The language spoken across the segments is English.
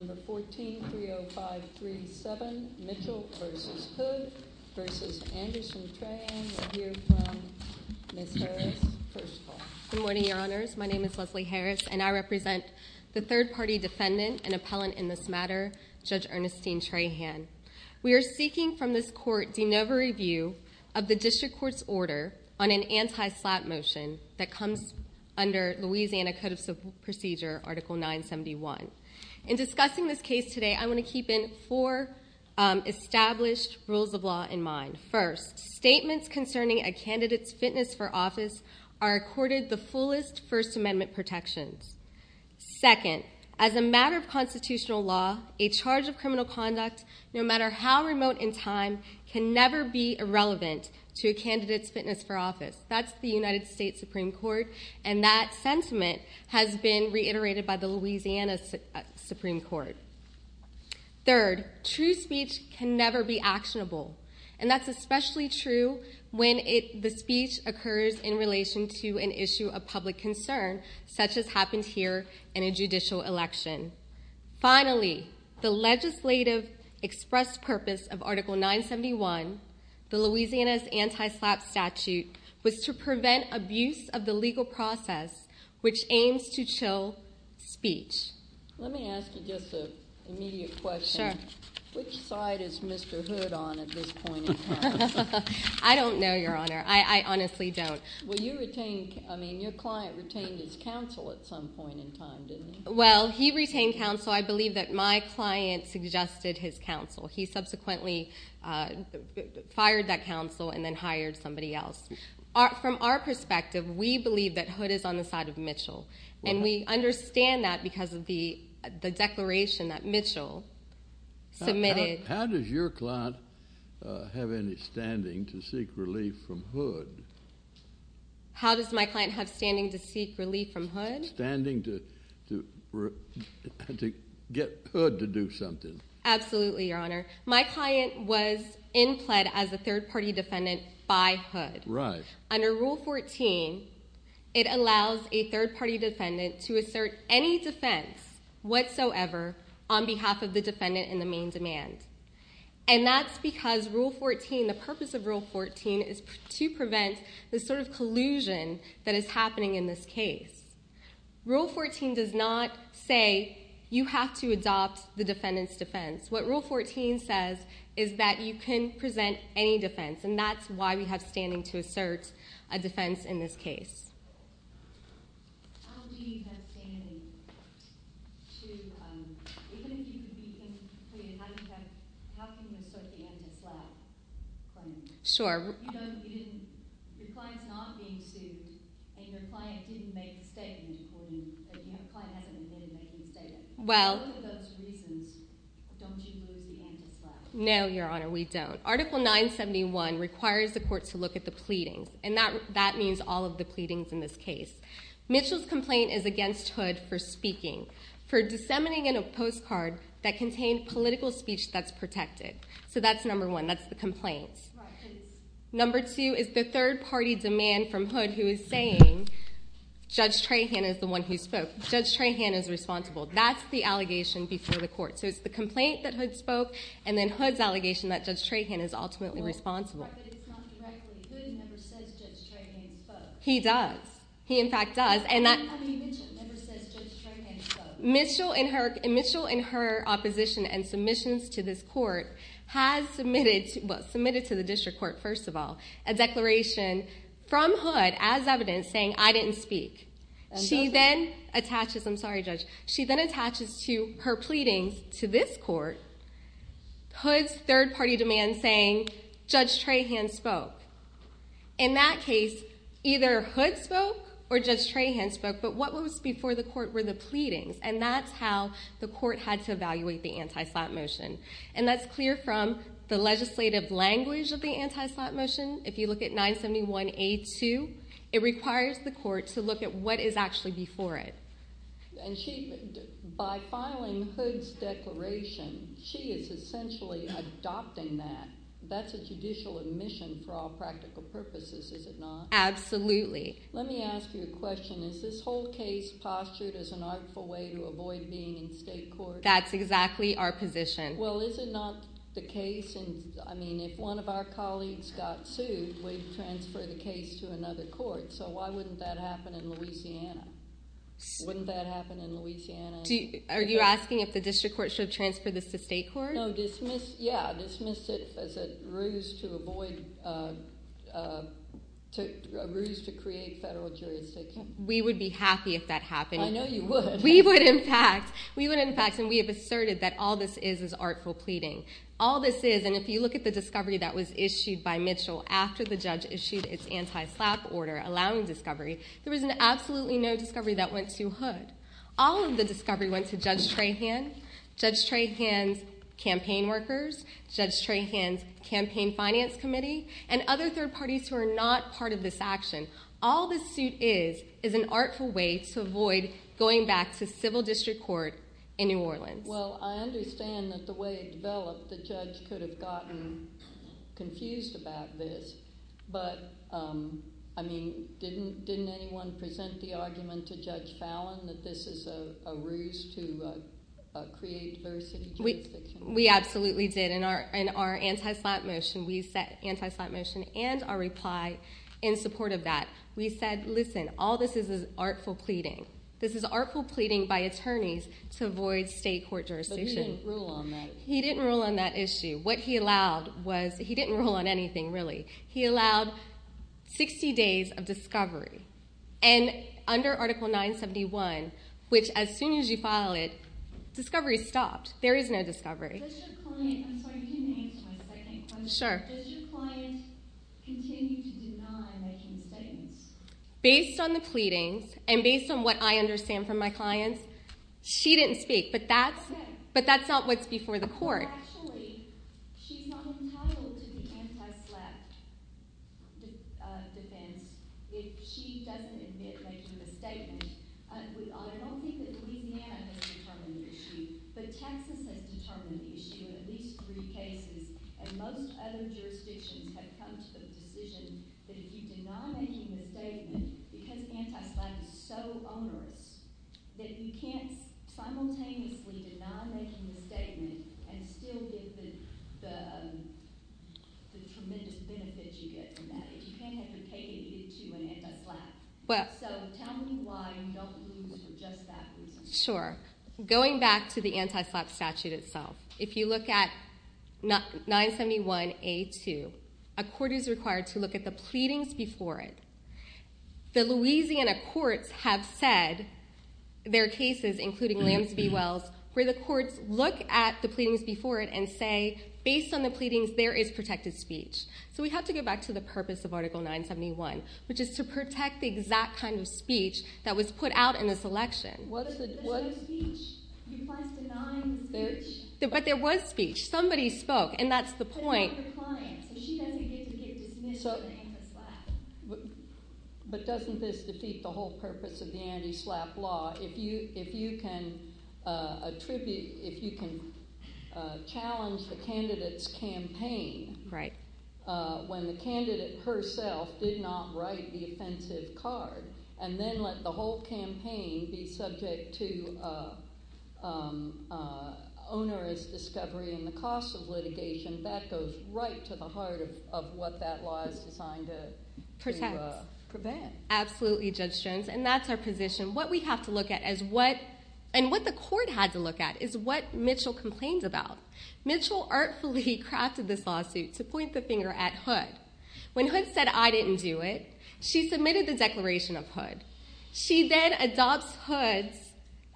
No. 14-30537, Mitchell v. Hood v. Anderson Trahan. We'll hear from Ms. Harris first of all. Good morning, Your Honors. My name is Leslie Harris, and I represent the third-party defendant and appellant in this matter, Judge Ernestine Trahan. We are seeking from this Court de novo review of the District Court's order on an anti-SLAPP motion that comes under Louisiana Code of Procedure Article 971. In discussing this case today, I want to keep in four established rules of law in mind. First, statements concerning a candidate's fitness for office are accorded the fullest First Amendment protections. Second, as a matter of constitutional law, a charge of criminal conduct, no matter how remote in time, can never be irrelevant to a candidate's fitness for office. That's the United States Supreme Court, and that sentiment has been reiterated by the Louisiana Supreme Court. Third, true speech can never be actionable, and that's especially true when the speech occurs in relation to an issue of public concern, such as happened here in a judicial election. Finally, the legislative express purpose of Article 971, the Louisiana's anti-SLAPP statute, was to prevent abuse of the legal process, which aims to chill speech. Let me ask you just an immediate question. Sure. Which side is Mr. Hood on at this point in time? I don't know, Your Honor. I honestly don't. Well, you retained, I mean, your client retained his counsel at some point in time, didn't he? Well, he retained counsel. I believe that my client suggested his counsel. He subsequently fired that counsel and then hired somebody else. From our perspective, we believe that Hood is on the side of Mitchell, and we understand that because of the declaration that Mitchell submitted. How does your client have any standing to seek relief from Hood? How does my client have standing to seek relief from Hood? How does my client have standing to get Hood to do something? Absolutely, Your Honor. My client was in pled as a third-party defendant by Hood. Right. Under Rule 14, it allows a third-party defendant to assert any defense whatsoever on behalf of the defendant in the main demand. And that's because Rule 14, the purpose of Rule 14 is to prevent the sort of collusion that is happening in this case. Rule 14 does not say you have to adopt the defendant's defense. What Rule 14 says is that you can present any defense, and that's why we have standing to assert a defense in this case. How do you have standing to, even if you could be interpreted, how can you assert the anti-slap claim? Sure. You know, your client's not being sued, and your client didn't make a statement according, your client hasn't admitted making a statement. Well. For one of those reasons, don't you lose the anti-slap? No, Your Honor, we don't. Article 971 requires the court to look at the pleadings, and that means all of the pleadings in this case. Mitchell's complaint is against Hood for speaking, for disseminating a postcard that contained political speech that's protected. So that's number one. That's the complaint. Right. Number two is the third-party demand from Hood who is saying Judge Trahan is the one who spoke. Judge Trahan is responsible. That's the allegation before the court. So it's the complaint that Hood spoke, and then Hood's allegation that Judge Trahan is ultimately responsible. But it's not directly. Hood never says Judge Trahan spoke. He does. He, in fact, does. And Mitchell never says Judge Trahan spoke. Mitchell, in her opposition and submissions to this court, has submitted to the district court, first of all, a declaration from Hood, as evidence, saying I didn't speak. I'm sorry, Judge. She then attaches her pleadings to this court, Hood's third-party demand saying Judge Trahan spoke. In that case, either Hood spoke or Judge Trahan spoke. But what was before the court were the pleadings, and that's how the court had to evaluate the anti-slap motion. And that's clear from the legislative language of the anti-slap motion. If you look at 971A2, it requires the court to look at what is actually before it. And she, by filing Hood's declaration, she is essentially adopting that. That's a judicial admission for all practical purposes, is it not? Absolutely. Let me ask you a question. Is this whole case postured as an artful way to avoid being in state court? That's exactly our position. Well, is it not the case? And, I mean, if one of our colleagues got sued, we'd transfer the case to another court. So why wouldn't that happen in Louisiana? Wouldn't that happen in Louisiana? Are you asking if the district court should transfer this to state court? No, dismiss, yeah, dismiss it as a ruse to avoid, a ruse to create federal jurisdiction. We would be happy if that happened. I know you would. We would, in fact. We would, in fact, and we have asserted that all this is is artful pleading. All this is, and if you look at the discovery that was issued by Mitchell after the judge issued its anti-slap order allowing discovery, there was an absolutely no discovery that went to Hood. All of the discovery went to Judge Trahan, Judge Trahan's campaign workers, Judge Trahan's campaign finance committee, and other third parties who are not part of this action. All this suit is is an artful way to avoid going back to civil district court in New Orleans. Well, I understand that the way it developed, the judge could have gotten confused about this. But, I mean, didn't anyone present the argument to Judge Fallon that this is a ruse to create diversity of jurisdiction? We absolutely did. In our anti-slap motion, we set anti-slap motion and our reply in support of that. We said, listen, all this is is artful pleading. This is artful pleading by attorneys to avoid state court jurisdiction. But he didn't rule on that. He didn't rule on that issue. What he allowed was he didn't rule on anything, really. He allowed 60 days of discovery. And under Article 971, which as soon as you file it, discovery is stopped. There is no discovery. I'm sorry, can you answer my second question? Sure. Does your client continue to deny making statements? Based on the pleadings and based on what I understand from my clients, she didn't speak. But that's not what's before the court. Actually, she's not entitled to the anti-slap defense if she doesn't admit making the statement. I don't think that Louisiana has determined the issue. But Texas has determined the issue in at least three cases. And most other jurisdictions have come to the decision that if you deny making the statement, because anti-slap is so onerous, that you can't simultaneously deny making the statement and still get the tremendous benefit you get from that. You can't have it catered to an anti-slap. So tell me why you don't believe it's just that reason. Sure. Going back to the anti-slap statute itself, if you look at 971A2, a court is required to look at the pleadings before it. The Louisiana courts have said their cases, including Lambs v. Wells, where the courts look at the pleadings before it and say, based on the pleadings, there is protected speech. So we have to go back to the purpose of Article 971, which is to protect the exact kind of speech that was put out in this election. But there was speech. Somebody spoke, and that's the point. But doesn't this defeat the whole purpose of the anti-slap law? If you can challenge the candidate's campaign when the candidate herself did not write the offensive card, and then let the whole campaign be subject to onerous discovery and the cost of litigation, that goes right to the heart of what that law is designed to prevent. Absolutely, Judge Jones. And that's our position. And what the court had to look at is what Mitchell complained about. Mitchell artfully crafted this lawsuit to point the finger at Hood. When Hood said, I didn't do it, she submitted the declaration of Hood. She then adopts Hood's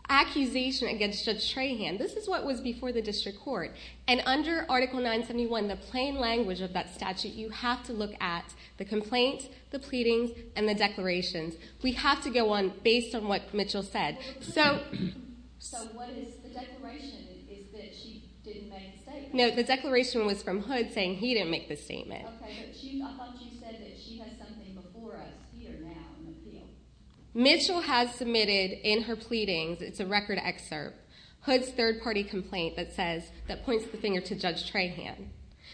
accusation against Judge Trahan. This is what was before the district court. And under Article 971, the plain language of that statute, you have to look at the complaint, the pleadings, and the declarations. We have to go on based on what Mitchell said. No, the declaration was from Hood saying he didn't make the statement. Mitchell has submitted in her pleadings, it's a record excerpt, Hood's third-party complaint that points the finger to Judge Trahan.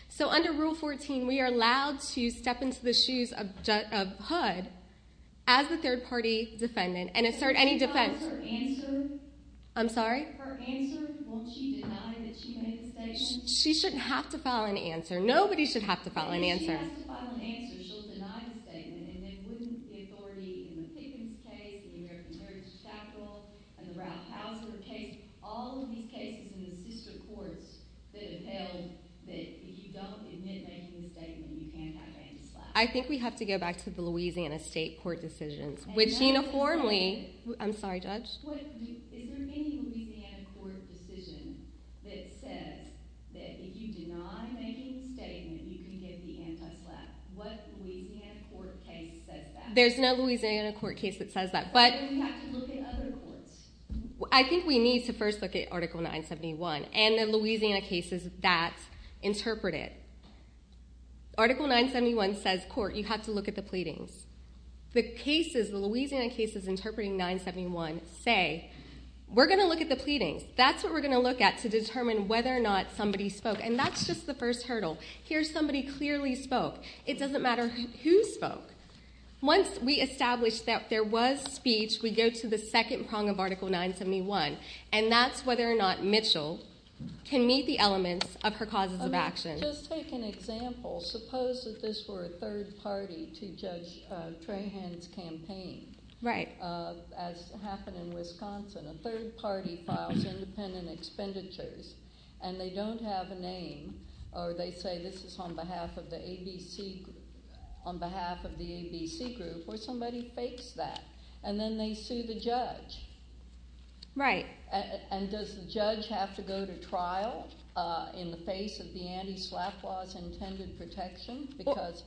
So under Rule 14, we are allowed to step into the shoes of Hood as the third-party defendant and assert any defense. I'm sorry? She shouldn't have to file an answer. Nobody should have to file an answer. I think we have to go back to the Louisiana state court decisions, which uniformly... I'm sorry, Judge? There's no Louisiana court case that says that, but... I think we need to first look at Article 971 and the Louisiana cases that interpret it. Article 971 says, court, you have to look at the pleadings. The cases, the Louisiana cases interpreting 971 say, we're going to look at the pleadings. That's what we're going to look at to determine whether or not somebody spoke. And that's just the first hurdle. Here, somebody clearly spoke. It doesn't matter who spoke. Once we establish that there was speech, we go to the second prong of Article 971, and that's whether or not Mitchell can meet the elements of her causes of action. Just take an example. Suppose that this were a third party to Judge Trahan's campaign. Right. As happened in Wisconsin. A third party files independent expenditures, and they don't have a name, or they say this is on behalf of the ABC group, or somebody fakes that. And then they sue the judge. Right. And does the judge have to go to trial in the face of the anti-SLAPP laws and intended protection because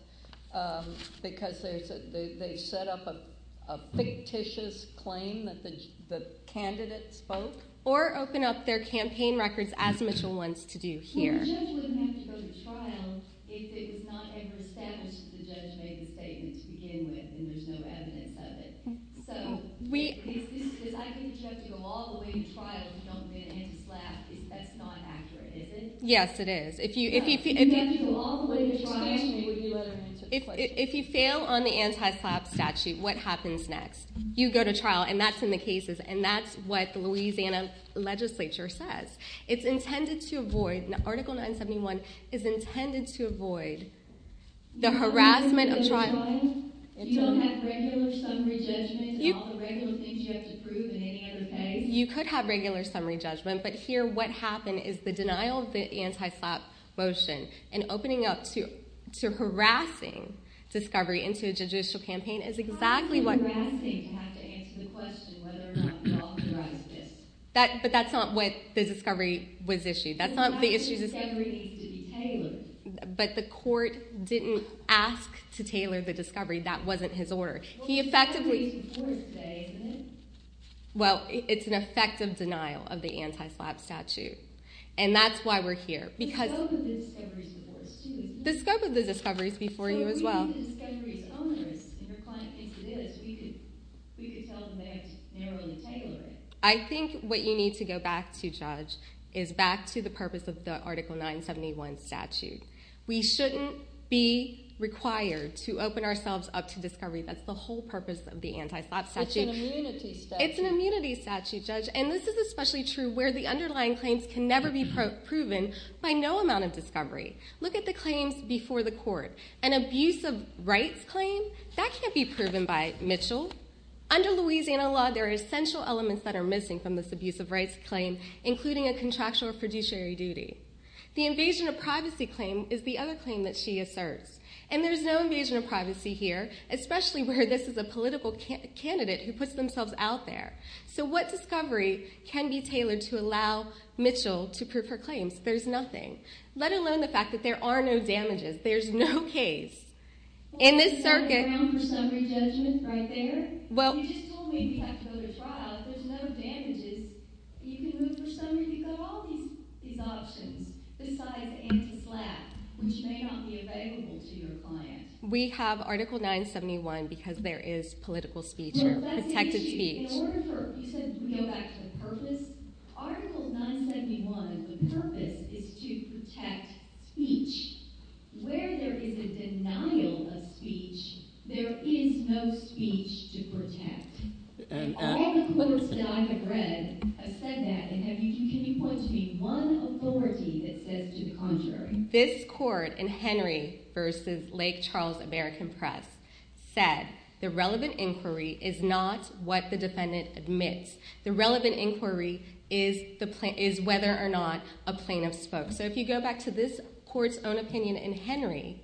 they set up a fictitious claim that the candidate spoke? Or open up their campaign records, as Mitchell wants to do here. The judge wouldn't have to go to trial if it was not ever established that the judge made the statement to begin with and there's no evidence of it. So I think the judge would go all the way to trial if you don't get anti-SLAPP. That's not accurate, is it? Yes, it is. If you fail on the anti-SLAPP statute, what happens next? You go to trial, and that's in the cases, and that's what the Louisiana legislature says. Article 971 is intended to avoid the harassment of trial. You don't have regular summary judgment and all the regular things you have to prove in any other case? You could have regular summary judgment, but here what happened is the denial of the anti-SLAPP motion and opening up to harassing discovery into a judicial campaign is exactly what... How is it harassing to have to answer the question whether or not the law authorizes it? But that's not what the discovery was issued. The discovery needs to be tailored. But the court didn't ask to tailor the discovery. That wasn't his order. He effectively... Well, it's an effective denial of the anti-SLAPP statute, and that's why we're here because... The scope of the discovery is before you as well. If the discovery is onerous and your client thinks it is, we could tell them they have to narrowly tailor it. I think what you need to go back to, Judge, is back to the purpose of the Article 971 statute. We shouldn't be required to open ourselves up to discovery. That's the whole purpose of the anti-SLAPP statute. It's an immunity statute. It's an immunity statute, Judge, and this is especially true where the underlying claims can never be proven by no amount of discovery. Look at the claims before the court. An abuse of rights claim, that can't be proven by Mitchell. Under Louisiana law, there are essential elements that are missing from this abuse of rights claim, including a contractual or fiduciary duty. The invasion of privacy claim is the other claim that she asserts. And there's no invasion of privacy here, especially where this is a political candidate who puts themselves out there. So what discovery can be tailored to allow Mitchell to prove her claims? There's nothing, let alone the fact that there are no damages. There's no case. In this circuit... ...for summary judgment right there? You just told me we have to go to trial. There's no damages. You can move for summary. You've got all these options, besides anti-SLAPP, which may not be available to your client. We have Article 971 because there is political speech or protected speech. Well, that's the issue. You said we go back to purpose. Article 971, the purpose, is to protect speech. Where there is a denial of speech, there is no speech to protect. All the courts that I have read have said that, and can you point to me one authority that says to the contrary? This court in Henry v. Lake Charles American Press said the relevant inquiry is not what the defendant admits. The relevant inquiry is whether or not a plaintiff spoke. So if you go back to this court's own opinion in Henry,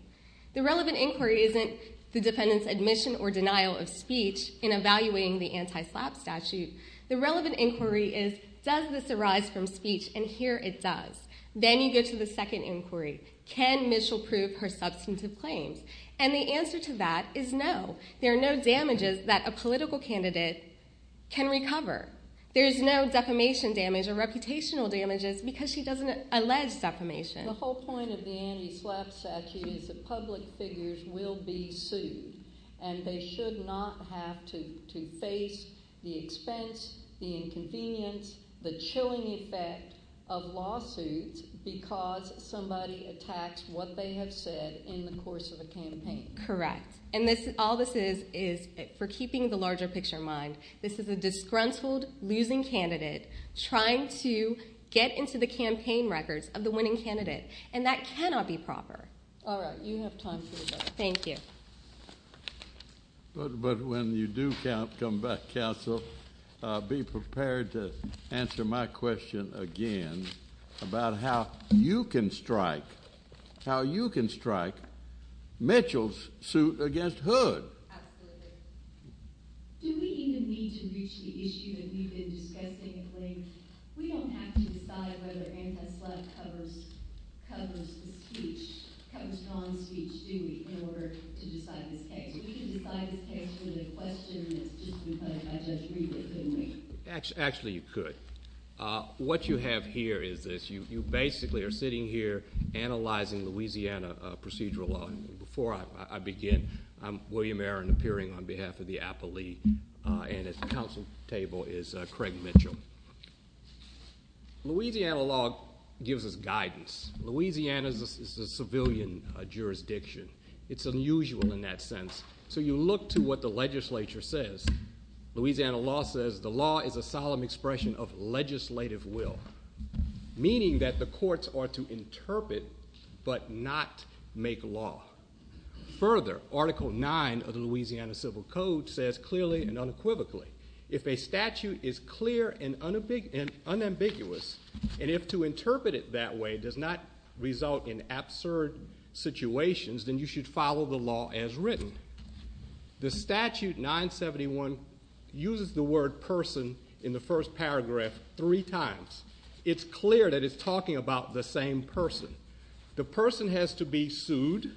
the relevant inquiry isn't the defendant's admission or denial of speech in evaluating the anti-SLAPP statute. The relevant inquiry is does this arise from speech, and here it does. Then you go to the second inquiry. Can Mitchell prove her substantive claims? And the answer to that is no. There are no damages that a political candidate can recover. There is no defamation damage or reputational damages because she doesn't allege defamation. The whole point of the anti-SLAPP statute is that public figures will be sued, and they should not have to face the expense, the inconvenience, the chilling effect of lawsuits Correct. And all this is is for keeping the larger picture in mind. This is a disgruntled, losing candidate trying to get into the campaign records of the winning candidate, and that cannot be proper. All right. You have time for a break. Thank you. But when you do come back, counsel, be prepared to answer my question again about how you can strike, Mitchell's suit against Hood. Absolutely. Do we even need to reach the issue that we've been discussing at length? We don't have to decide whether anti-SLAPP covers the speech, covers non-speech, do we, in order to decide this case. We can decide this case with a question that's just been put by Judge Riegel, couldn't we? Actually, you could. What you have here is this. You basically are sitting here analyzing Louisiana procedural law. Before I begin, I'm William Aaron, appearing on behalf of the appellee, and at the counsel table is Craig Mitchell. Louisiana law gives us guidance. Louisiana is a civilian jurisdiction. It's unusual in that sense. So you look to what the legislature says. Louisiana law says the law is a solemn expression of legislative will, meaning that the courts are to interpret but not make law. Further, Article 9 of the Louisiana Civil Code says clearly and unequivocally, if a statute is clear and unambiguous, and if to interpret it that way does not result in absurd situations, then you should follow the law as written. The Statute 971 uses the word person in the first paragraph three times. It's clear that it's talking about the same person. The person has to be sued,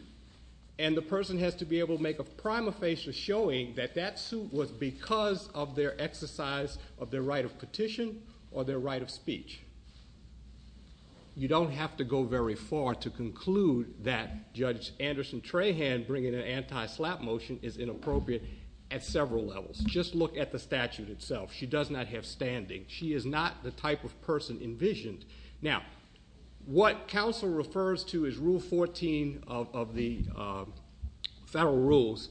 and the person has to be able to make a prima facie showing that that suit was because of their exercise of their right of petition or their right of speech. You don't have to go very far to conclude that Judge Anderson Trahan bringing in an anti-slap motion is inappropriate at several levels. Just look at the statute itself. She does not have standing. She is not the type of person envisioned. Now, what counsel refers to is Rule 14 of the federal rules,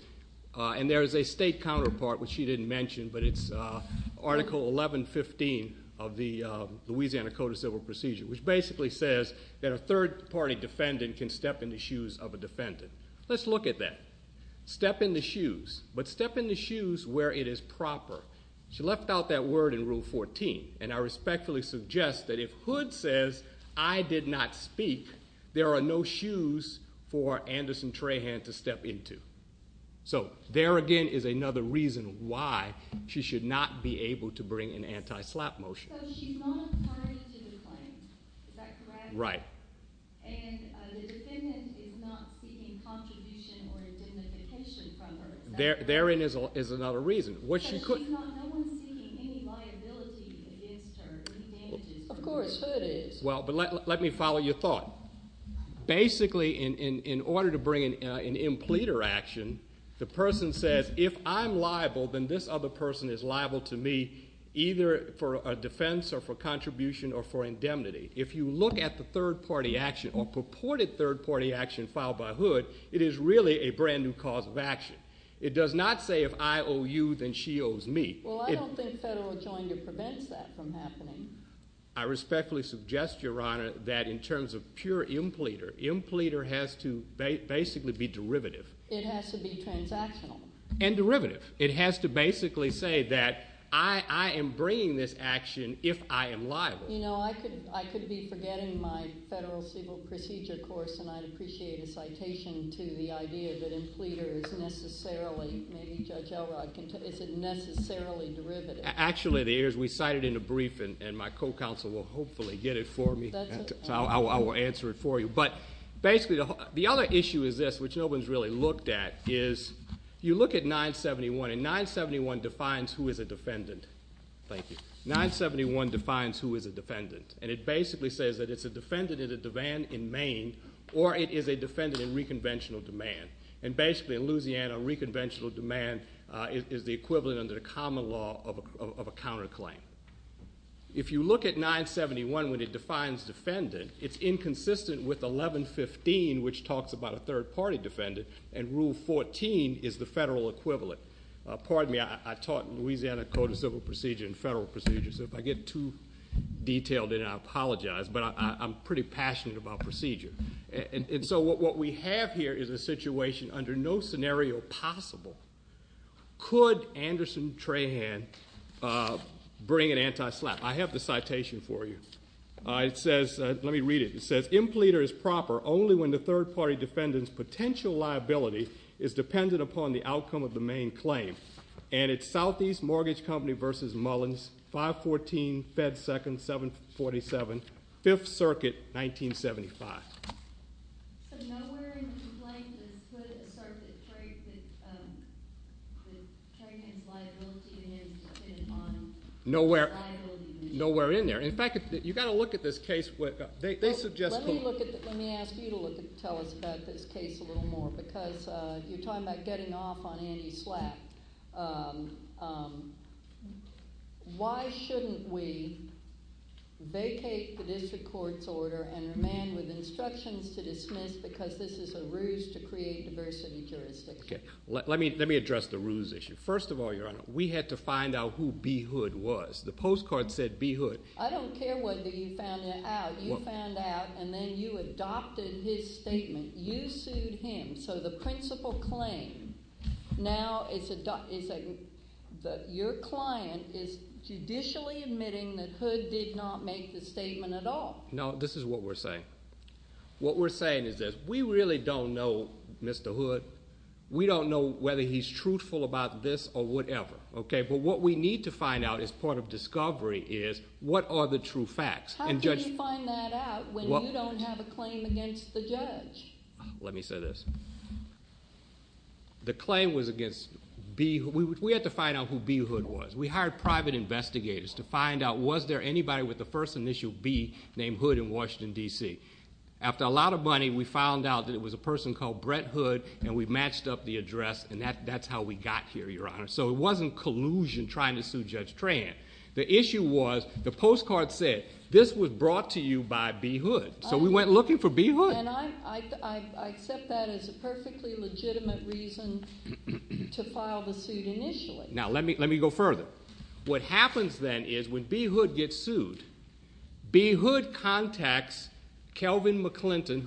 and there is a state counterpart, which she didn't mention, but it's Article 1115 of the Louisiana Code of Civil Procedure, which basically says that a third-party defendant can step in the shoes of a defendant. Let's look at that. Step in the shoes, but step in the shoes where it is proper. She left out that word in Rule 14, and I respectfully suggest that if Hood says, I did not speak, there are no shoes for Anderson Trahan to step into. So there, again, is another reason why she should not be able to bring in anti-slap motion. So she's not referring to the claims. Right. And the defendant is not seeking contribution or indemnification from her. Therein is another reason. No one is seeking any liability against her, any damages. Of course Hood is. Well, but let me follow your thought. Basically, in order to bring in an impleter action, the person says, if I'm liable, then this other person is liable to me, either for a defense or for contribution or for indemnity. If you look at the third-party action or purported third-party action filed by Hood, it is really a brand-new cause of action. It does not say, if I owe you, then she owes me. Well, I don't think federal adjournment prevents that from happening. I respectfully suggest, Your Honor, that in terms of pure impleter, impleter has to basically be derivative. It has to be transactional. And derivative. It has to basically say that I am bringing this action if I am liable. You know, I could be forgetting my Federal Civil Procedure course, and I'd appreciate a citation to the idea that impleter is necessarily, maybe Judge Elrod can tell me, is it necessarily derivative? Actually, it is. We cited it in a brief, and my co-counsel will hopefully get it for me. I will answer it for you. But basically, the other issue is this, which no one has really looked at, is you look at 971, and 971 defines who is a defendant. Thank you. 971 defines who is a defendant, and it basically says that it's a defendant in a demand in Maine, or it is a defendant in reconventional demand. And basically, in Louisiana, reconventional demand is the equivalent under the common law of a counterclaim. If you look at 971, when it defines defendant, it's inconsistent with 1115, which talks about a third-party defendant, and Rule 14 is the federal equivalent. Pardon me. I taught in Louisiana Code of Civil Procedure and Federal Procedure, so if I get too detailed in it, I apologize, but I'm pretty passionate about procedure. And so what we have here is a situation under no scenario possible. Could Anderson Trahan bring an anti-slap? I have the citation for you. Let me read it. It says, Impleter is proper only when the third-party defendant's potential liability is dependent upon the outcome of the Maine claim. And it's Southeast Mortgage Company v. Mullins, 514 Fed 2nd, 747, 5th Circuit, 1975. So nowhere in the complaint does it assert that Trahan's liability is dependent on the liability. Nowhere in there. In fact, you've got to look at this case. They suggest that. Let me ask you to tell us about this case a little more because you're talking about getting off on anti-slap. Why shouldn't we vacate the district court's order and remand with instructions to dismiss because this is a ruse to create diversity jurisdiction? Let me address the ruse issue. First of all, Your Honor, we had to find out who B. Hood was. The postcard said B. Hood. I don't care whether you found out. You found out and then you adopted his statement. You sued him. So the principal claim now is that your client is judicially admitting that Hood did not make the statement at all. No, this is what we're saying. What we're saying is this. We really don't know Mr. Hood. We don't know whether he's truthful about this or whatever. But what we need to find out as part of discovery is what are the true facts. How can you find that out when you don't have a claim against the judge? Let me say this. The claim was against B. Hood. We had to find out who B. Hood was. We hired private investigators to find out was there anybody with the first initial B named Hood in Washington, D.C.? After a lot of money, we found out that it was a person called Brett Hood and we matched up the address and that's how we got here, Your Honor. So it wasn't collusion trying to sue Judge Tran. The issue was the postcard said this was brought to you by B. Hood. So we went looking for B. Hood. And I accept that as a perfectly legitimate reason to file the suit initially. Now let me go further. What happens then is when B. Hood gets sued, B. Hood contacts Kelvin McClinton,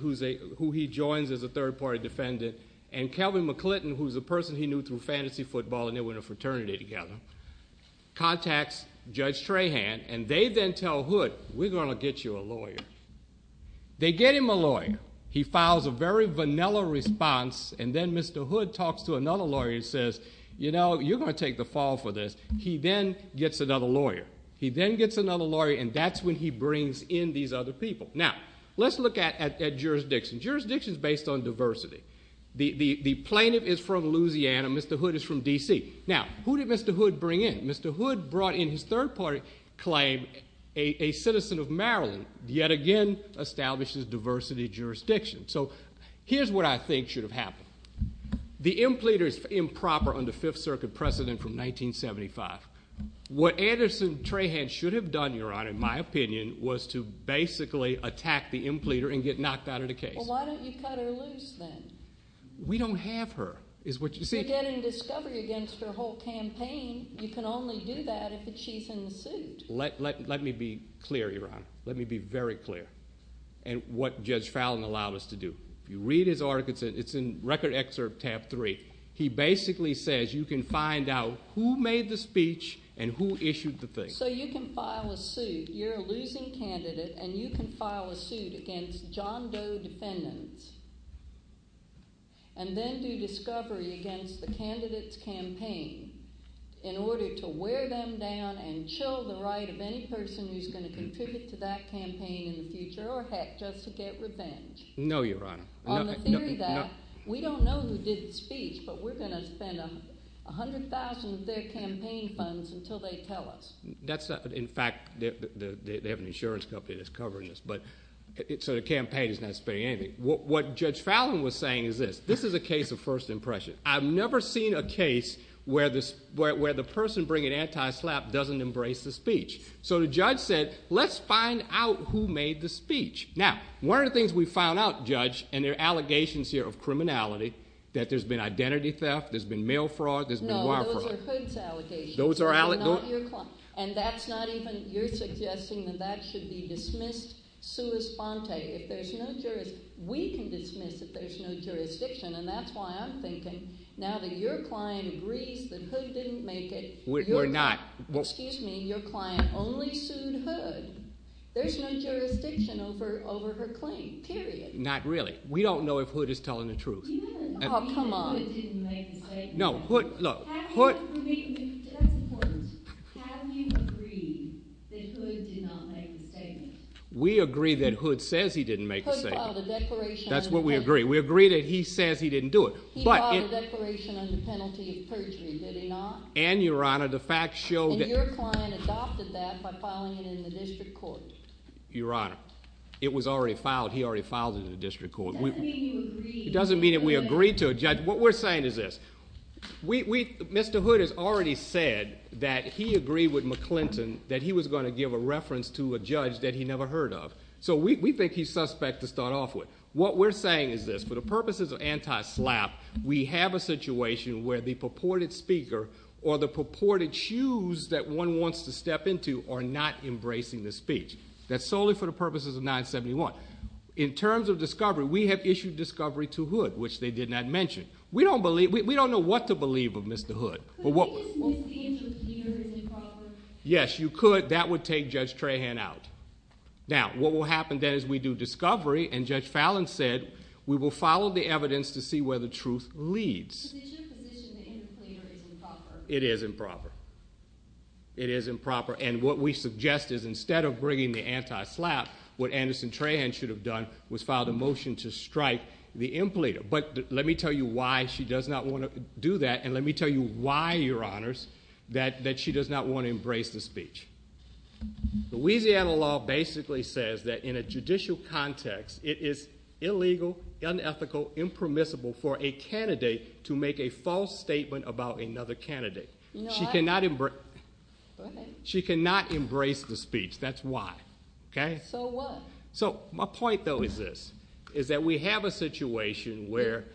who he joins as a third-party defendant, and Kelvin McClinton, who's a person he knew through fantasy football and they were in a fraternity together, contacts Judge Tran and they then tell Hood, we're going to get you a lawyer. They get him a lawyer. He files a very vanilla response and then Mr. Hood talks to another lawyer and says, you know, you're going to take the fall for this. He then gets another lawyer. He then gets another lawyer and that's when he brings in these other people. Now let's look at jurisdiction. Jurisdiction is based on diversity. The plaintiff is from Louisiana. Mr. Hood is from D.C. Now, who did Mr. Hood bring in? Mr. Hood brought in his third-party claim, a citizen of Maryland, yet again establishes diversity jurisdiction. So here's what I think should have happened. The impleader is improper under Fifth Circuit precedent from 1975. What Anderson Trahan should have done, Your Honor, in my opinion, was to basically attack the impleader and get knocked out of the case. Well, why don't you cut her loose then? We don't have her. You're getting discovery against her whole campaign. You can only do that if she's in the suit. Let me be clear, Your Honor. Let me be very clear in what Judge Fallin allowed us to do. If you read his article, it's in Record Excerpt Tab 3. He basically says you can find out who made the speech and who issued the thing. So you can file a suit. You're a losing candidate and you can file a suit against John Doe defendants and then do discovery against the candidate's campaign in order to wear them down and show the right of any person who's going to contribute to that campaign in the future or, heck, just to get revenge. No, Your Honor. On the theory of that, we don't know who did the speech, but we're going to spend $100,000 of their campaign funds until they tell us. In fact, they have an insurance company that's covering this. So the campaign is not spending anything. What Judge Fallin was saying is this. This is a case of first impression. I've never seen a case where the person bringing anti-SLAPP doesn't embrace the speech. So the judge said, Let's find out who made the speech. Now, one of the things we found out, Judge, and there are allegations here of criminality, that there's been identity theft, there's been mail fraud, there's been wire fraud. No, those are Hood's allegations. Those are allegations? They're not your client. And that's not even you're suggesting that that should be dismissed sua sponte. We can dismiss if there's no jurisdiction, and that's why I'm thinking, now that your client agrees that Hood didn't make it. We're not. Excuse me, your client only sued Hood. There's no jurisdiction over her claim, period. Not really. We don't know if Hood is telling the truth. Oh, come on. Do you agree that Hood didn't make the statement? No. That's important. Have you agreed that Hood did not make the statement? We agree that Hood says he didn't make the statement. Hood filed a declaration. That's what we agree. We agree that he says he didn't do it. He filed a declaration on the penalty of perjury, did he not? And, Your Honor, the facts show that. And your client adopted that by filing it in the district court. Your Honor, it was already filed. He already filed it in the district court. It doesn't mean you agree. It doesn't mean that we agree to it, Judge. What we're saying is this. Mr. Hood has already said that he agreed with McClinton that he was going to give a reference to a judge that he never heard of. So, we think he's suspect to start off with. What we're saying is this. For the purposes of anti-SLAPP, we have a situation where the purported speaker or the purported shoes that one wants to step into are not embracing the speech. That's solely for the purposes of 971. In terms of discovery, we have issued discovery to Hood, which they did not mention. We don't know what to believe of Mr. Hood. But wouldn't it be improper? Yes, you could. That would take Judge Trahan out. Now, what will happen then is we do discovery, and Judge Fallon said, we will follow the evidence to see where the truth leads. But isn't your position that the impleter is improper? It is improper. It is improper. And what we suggest is instead of bringing the anti-SLAPP, what Anderson Trahan should have done was filed a motion to strike the impleter. But let me tell you why she does not want to do that, and let me tell you why, Your Honors, that she does not want to embrace the speech. Louisiana law basically says that in a judicial context, it is illegal, unethical, impermissible for a candidate to make a false statement about another candidate. She cannot embrace the speech. That's why. So what? My point, though, is this, is that we have a situation where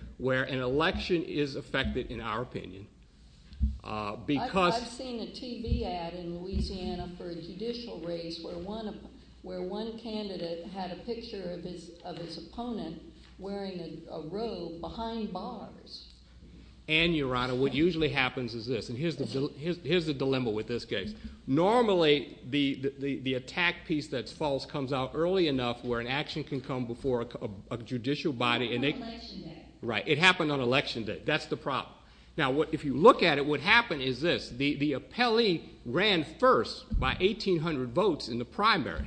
an election is affected, in our opinion. I've seen a TV ad in Louisiana for a judicial race where one candidate had a picture of his opponent wearing a robe behind bars. And, Your Honor, what usually happens is this, and here's the dilemma with this case. Normally, the attack piece that's false comes out early enough where an action can come before a judicial body. On election day. Right. It happened on election day. That's the problem. Now, if you look at it, what happened is this. The appellee ran first by 1,800 votes in the primary.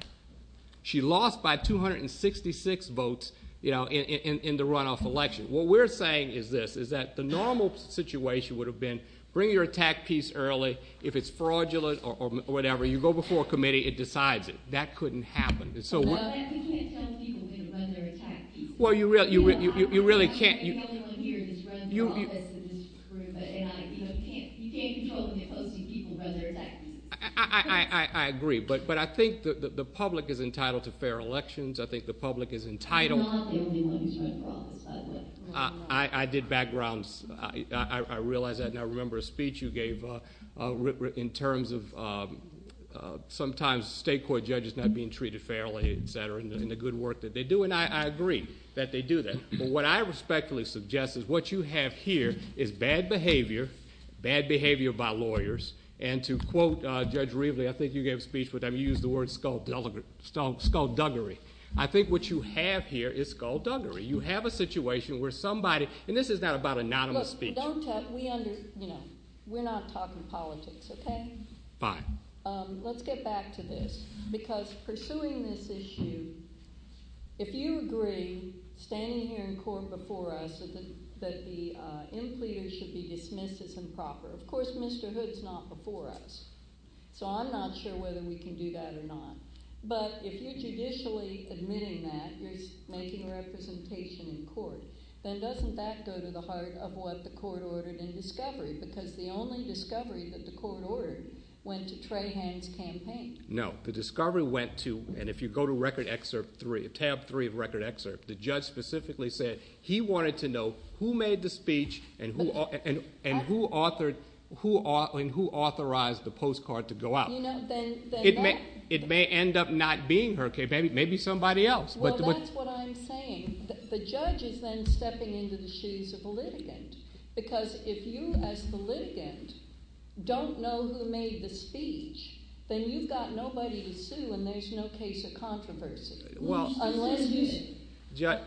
She lost by 266 votes in the runoff election. What we're saying is this, is that the normal situation would have been bring your attack piece early if it's fraudulent or whatever. You go before a committee. It decides it. That couldn't happen. We can't tell people to run their attack piece. Well, you really can't. I'm not the only one here who's run for office in this room. You can't control the people who run their attack piece. I agree. But I think the public is entitled to fair elections. I think the public is entitled. You're not the only one who's run for office, by the way. I did backgrounds. I realize that. I remember a speech you gave in terms of sometimes state court judges not being treated fairly, et cetera, and the good work that they do. I agree that they do that. But what I respectfully suggest is what you have here is bad behavior, bad behavior by lawyers, and to quote Judge Reveley, I think you gave a speech with him, you used the word skullduggery. I think what you have here is skullduggery. You have a situation where somebody, and this is not about anonymous speech. We're not talking politics, okay? Fine. Let's get back to this because pursuing this issue, if you agree, standing here in court before us, that the impleaders should be dismissed as improper, of course Mr. Hood's not before us. So I'm not sure whether we can do that or not. But if you're judicially admitting that, you're making representation in court, then doesn't that go to the heart of what the court ordered in discovery? Because the only discovery that the court ordered went to Trahan's campaign. No. The discovery went to, and if you go to Record Excerpt 3, Tab 3 of Record Excerpt, the judge specifically said he wanted to know who made the speech and who authorized the postcard to go out. It may end up not being her, maybe somebody else. Well, that's what I'm saying. The judge is then stepping into the shoes of the litigant, because if you as the litigant don't know who made the speech, then you've got nobody to sue and there's no case of controversy. Unless you say,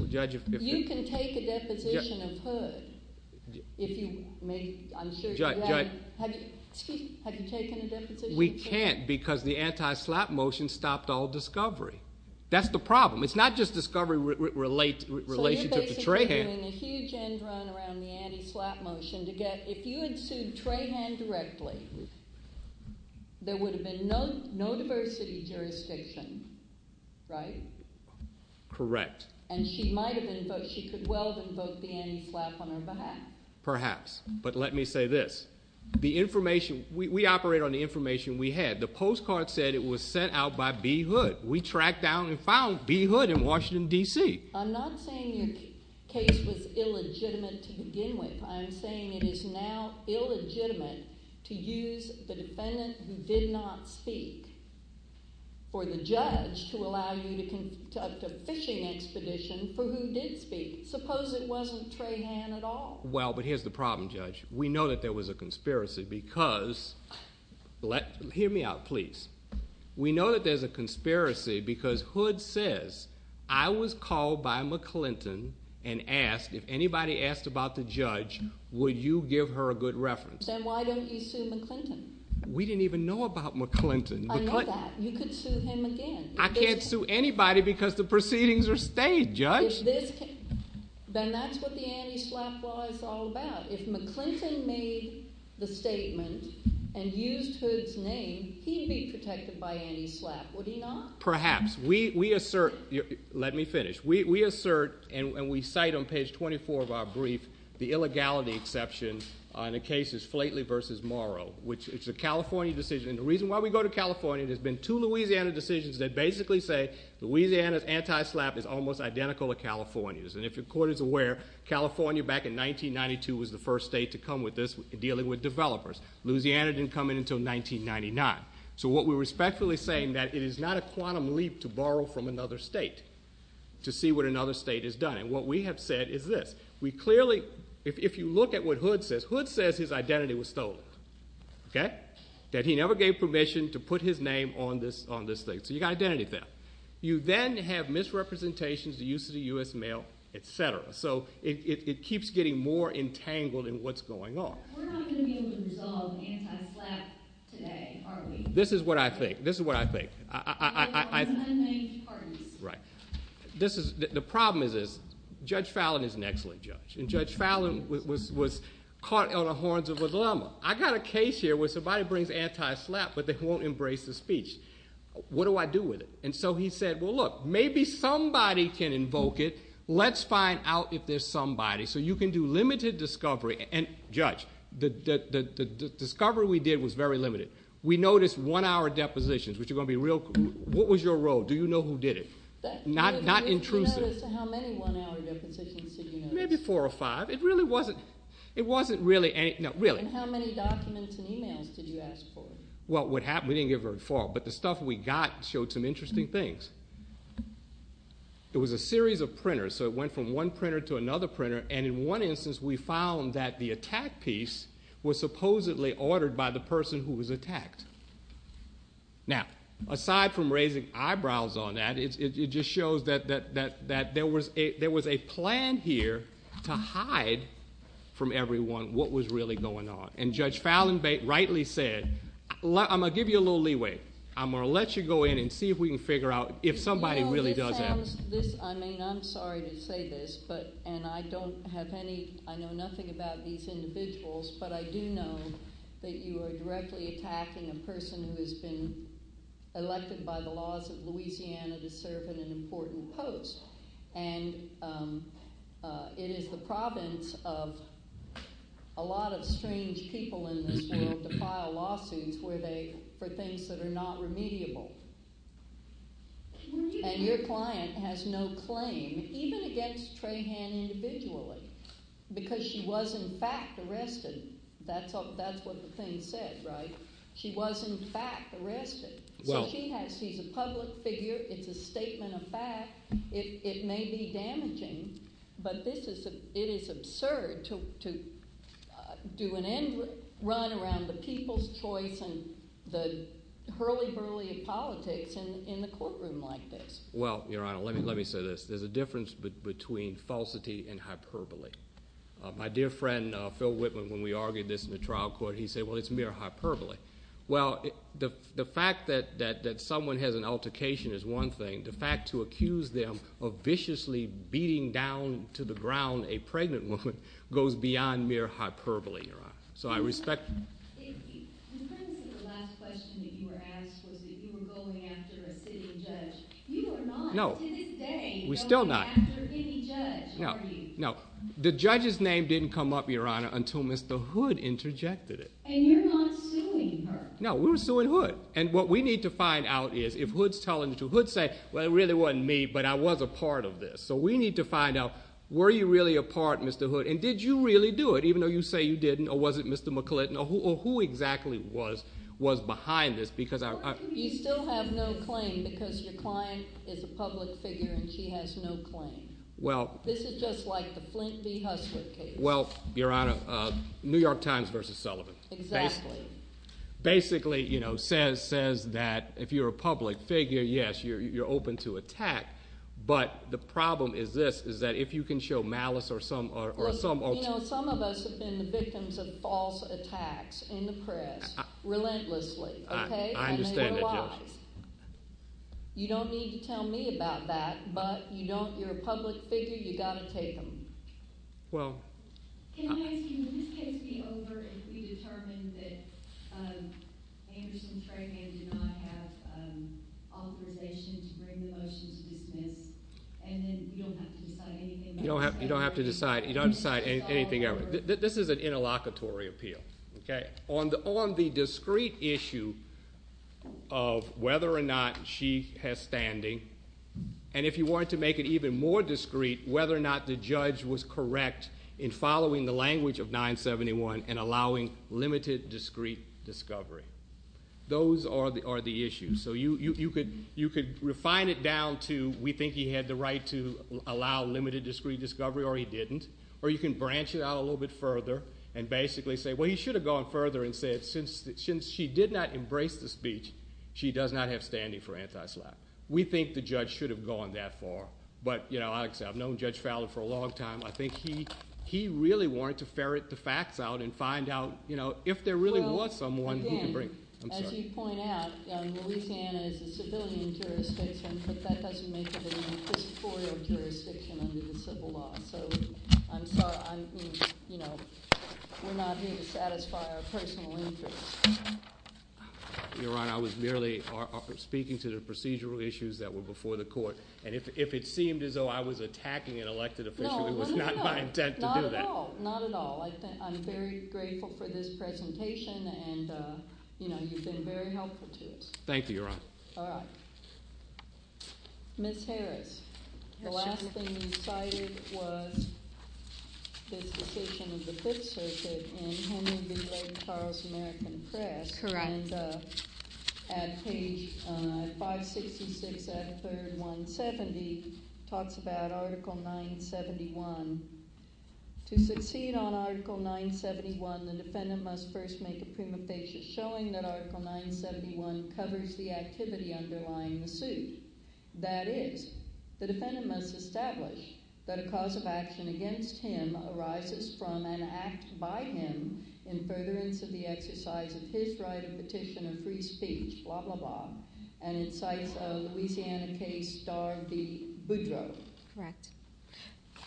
you can take a deposition of Hood if you make, I'm sure you can. Have you taken a deposition of Hood? We can't because the anti-slap motion stopped all discovery. That's the problem. It's not just discovery in relation to Trahan. So you're basically doing a huge end run around the anti-slap motion to get, if you had sued Trahan directly, there would have been no diversity jurisdiction, right? Correct. And she might have invoked, she could well have invoked the anti-slap on her behalf. Perhaps, but let me say this. The information, we operate on the information we had. The postcard said it was sent out by B. Hood. We tracked down and found B. Hood in Washington, D.C. I'm not saying your case was illegitimate to begin with. I'm saying it is now illegitimate to use the defendant who did not speak for the judge to allow you to conduct a fishing expedition for who did speak. Suppose it wasn't Trahan at all. Well, but here's the problem, Judge. We know that there was a conspiracy because, hear me out, please. We know that there's a conspiracy because Hood says, I was called by McClinton and asked, if anybody asked about the judge, would you give her a good reference? Then why don't you sue McClinton? We didn't even know about McClinton. I know that. You could sue him again. I can't sue anybody because the proceedings are stayed, Judge. Then that's what the anti-slap law is all about. If McClinton made the statement and used Hood's name, he'd be protected by anti-slap, would he not? Perhaps. Let me finish. We assert and we cite on page 24 of our brief the illegality exception in the cases Flately v. Morrow, which is a California decision. The reason why we go to California, there's been two Louisiana decisions that basically say Louisiana's anti-slap is almost identical to California's. If your court is aware, California back in 1992 was the first state to come with this, dealing with developers. Louisiana didn't come in until 1999. What we're respectfully saying is that it is not a quantum leap to borrow from another state to see what another state has done. What we have said is this. If you look at what Hood says, Hood says his identity was stolen, that he never gave permission to put his name on this thing. You've got identity theft. You then have misrepresentations, the use of the U.S. mail, et cetera. So it keeps getting more entangled in what's going on. We're not going to be able to resolve anti-slap today, are we? This is what I think. This is what I think. There are unnamed parties. The problem is this. Judge Fallon is an excellent judge, and Judge Fallon was caught on the horns of a llama. I've got a case here where somebody brings anti-slap, but they won't embrace the speech. What do I do with it? So he said, well, look, maybe somebody can invoke it. Let's find out if there's somebody. So you can do limited discovery. Judge, the discovery we did was very limited. We noticed one-hour depositions, which are going to be real. What was your role? Do you know who did it? Not intrusive. How many one-hour depositions did you notice? Maybe four or five. It wasn't really anything. How many documents and emails did you ask for? Well, what happened, we didn't give her a fault, but the stuff we got showed some interesting things. It was a series of printers, so it went from one printer to another printer, and in one instance we found that the attack piece was supposedly ordered by the person who was attacked. Now, aside from raising eyebrows on that, it just shows that there was a plan here to hide from everyone what was really going on, and Judge Fallon rightly said, I'm going to give you a little leeway. I'm going to let you go in and see if we can figure out if somebody really does have it. I'm sorry to say this, and I know nothing about these individuals, but I do know that you are directly attacking a person who has been elected by the laws of Louisiana to serve in an important post. It is the province of a lot of strange people in this world to file lawsuits for things that are not remediable, and your client has no claim, even against Trahan individually, because she was in fact arrested. That's what the thing said, right? She was in fact arrested. She's a public figure. It's a statement of fact. It may be damaging, but it is absurd to do an end run around the people's choice and the hurly-burly of politics in the courtroom like this. Well, Your Honor, let me say this. There's a difference between falsity and hyperbole. My dear friend Phil Whitman, when we argued this in the trial court, he said, well, it's mere hyperbole. Well, the fact that someone has an altercation is one thing. The fact to accuse them of viciously beating down to the ground a pregnant woman goes beyond mere hyperbole, Your Honor. So I respect... The premise of the last question that you were asked was that you were going after a sitting judge. You are not to this day going after any judge, are you? No, the judge's name didn't come up, Your Honor, until Mr. Hood interjected it. And you're not suing her. No, we're suing Hood, and what we need to find out is if Hood's telling the truth, Hood's saying, well, it really wasn't me, but I was a part of this. So we need to find out, were you really a part, Mr. Hood? And did you really do it, even though you say you didn't? Or was it Mr. McClinton? Or who exactly was behind this? You still have no claim because your client is a public figure, and she has no claim. This is just like the Flint v. Hussler case. Well, Your Honor, New York Times v. Sullivan. Exactly. Basically, you know, says that if you're a public figure, yes, you're open to attack, but the problem is this, is that if you can show malice or some alternative. You know, some of us have been the victims of false attacks in the press, relentlessly, okay? I understand that, Your Honor. You don't need to tell me about that, but you don't, you're a public figure, you've got to take them. Well... Can I ask you, will this case be over if we determine that Anderson's trademark did not have authorization to bring the motion to dismiss, and then you don't have to decide anything else? You don't have to decide anything else. This is an interlocutory appeal, okay? On the discrete issue of whether or not she has standing, and if you want to make it even more discrete, whether or not the judge was correct in following the language of 971 and allowing limited discrete discovery. Those are the issues. So you could refine it down to, we think he had the right to allow limited discrete discovery, or he didn't. Or you can branch it out a little bit further and basically say, well, he should have gone further and said, since she did not embrace the speech, she does not have standing for anti-slap. We think the judge should have gone that far. But, like I said, I've known Judge Fowler for a long time. I think he really wanted to ferret the facts out and find out if there really was someone who could bring... Well, again, as you point out, Louisiana is a civilian jurisdiction, but that doesn't make it an inquisitorial jurisdiction under the civil law. So I'm sorry, we're not here to satisfy our personal interests. Your Honor, I was merely speaking to the procedural issues that were before the court. And if it seemed as though I was attacking an elected official, it was not my intent to do that. No, not at all. Not at all. I'm very grateful for this presentation, and you've been very helpful to us. Thank you, Your Honor. All right. Ms. Harris, the last thing you cited was this decision of the Fifth Circuit in Henry B. Blake Charles' American Press. Correct. And at page 566 at 3rd, 170, it talks about Article 971. To succeed on Article 971, the defendant must first make a prima facie showing that Article 971 covers the activity underlying the suit. That is, the defendant must establish that a cause of action against him arises from an act by him in furtherance of the exercise of his right of petition of free speech, blah, blah, blah, and incites a Louisiana case, Dar v. Boudreau. Correct.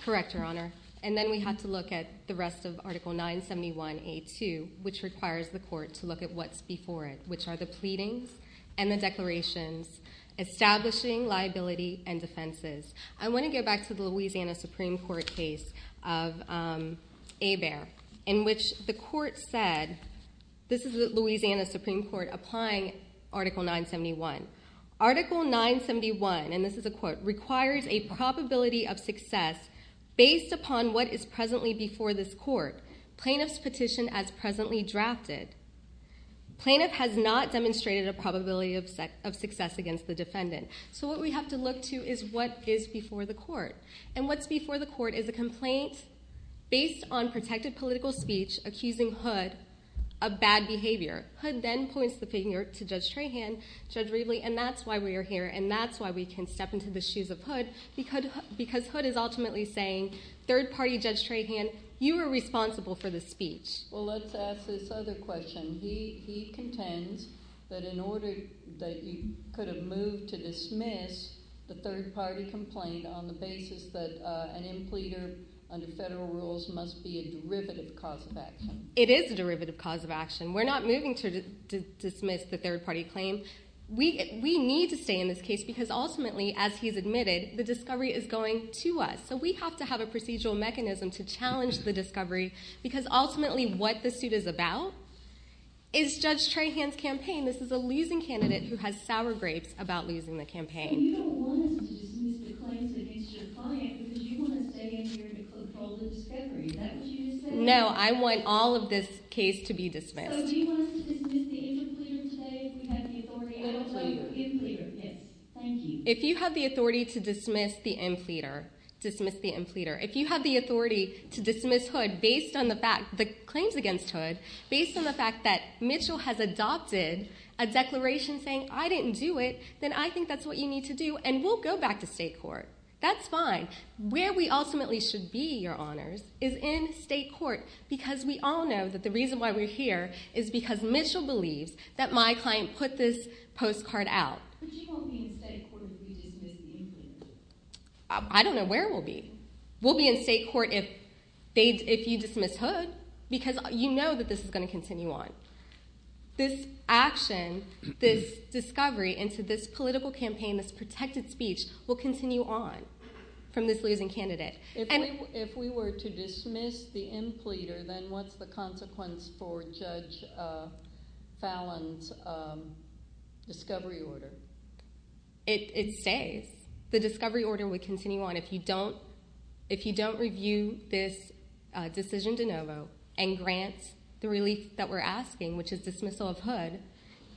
Correct, Your Honor. And then we have to look at the rest of Article 971A2, which requires the court to look at what's before it, which are the pleadings and the declarations establishing liability and defenses. I want to go back to the Louisiana Supreme Court case of Hebert, in which the court said this is the Louisiana Supreme Court applying Article 971. Article 971, and this is a quote, requires a probability of success based upon what is presently before this court, plaintiff's petition as presently drafted. Plaintiff has not demonstrated a probability of success against the defendant. So what we have to look to is what is before the court. And what's before the court is a complaint based on protected political speech accusing Hood of bad behavior. Hood then points the finger to Judge Trahan, Judge Raveley, and that's why we are here, and that's why we can step into the shoes of Hood, because Hood is ultimately saying, third-party Judge Trahan, you are responsible for this speech. Well, let's ask this other question. He contends that in order that you could have moved to dismiss the third-party complaint on the basis that an impleader under federal rules must be a derivative cause of action. It is a derivative cause of action. We're not moving to dismiss the third-party claim. We need to stay in this case because ultimately, as he's admitted, the discovery is going to us. So we have to have a procedural mechanism to challenge the discovery because ultimately what the suit is about is Judge Trahan's campaign. This is a losing candidate who has sour grapes about losing the campaign. And you don't want us to dismiss the claims against your client because you want to stay in here to control the discovery. Is that what you're saying? No, I want all of this case to be dismissed. So do you want us to dismiss the impleader today if we have the authority? Impleader. Impleader, yes. Thank you. If you have the authority to dismiss the impleader, dismiss the impleader. If you have the authority to dismiss Hood based on the fact, the claims against Hood, based on the fact that Mitchell has adopted a declaration saying, I didn't do it, then I think that's what you need to do, and we'll go back to state court. That's fine. Where we ultimately should be, Your Honors, is in state court because we all know that the reason why we're here is because Mitchell believes that my client put this postcard out. But you won't be in state court if we dismiss the impleader. I don't know where we'll be. We'll be in state court if you dismiss Hood because you know that this is going to continue on. This action, this discovery into this political campaign, this protected speech will continue on from this losing candidate. If we were to dismiss the impleader, then what's the consequence for Judge Fallon's discovery order? It stays. The discovery order would continue on. If you don't review this decision de novo and grant the relief that we're asking, which is dismissal of Hood,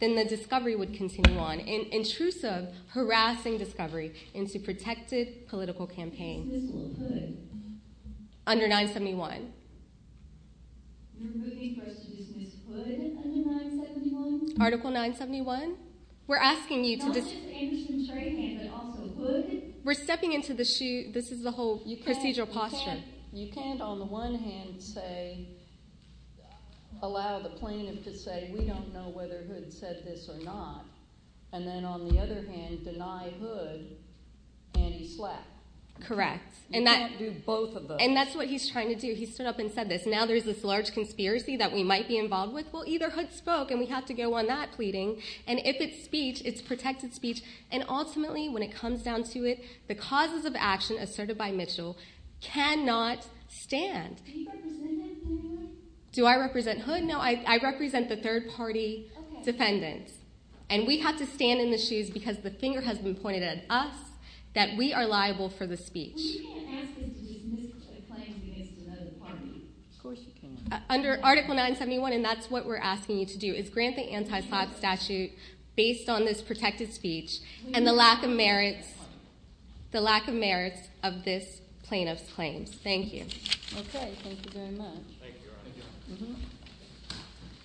then the discovery would continue on, an intrusive, harassing discovery into protected political campaigns. Dismissal of Hood? Under 971. You're moving for us to dismiss Hood under 971? Article 971? Not just Anderson's right hand, but also Hood's? We're stepping into the shoe. This is the whole procedural posture. You can't, on the one hand, allow the plaintiff to say, we don't know whether Hood said this or not, and then, on the other hand, deny Hood any slack. Correct. You can't do both of those. And that's what he's trying to do. He stood up and said this. Now there's this large conspiracy that we might be involved with. Well, either Hood spoke, and we have to go on that pleading, and if it's speech, it's protected speech, and ultimately, when it comes down to it, the causes of action asserted by Mitchell cannot stand. Do you represent Hood? Do I represent Hood? No, I represent the third-party defendant, and we have to stand in the shoes because the finger has been pointed at us that we are liable for the speech. Well, you can't ask him to dismiss the plaintiff against another party. Of course you can't. Under Article 971, and that's what we're asking you to do, is grant the anti-slap statute based on this protected speech and the lack of merits of this plaintiff's claims. Thank you. Okay, thank you very much. Thank you, Your Honor.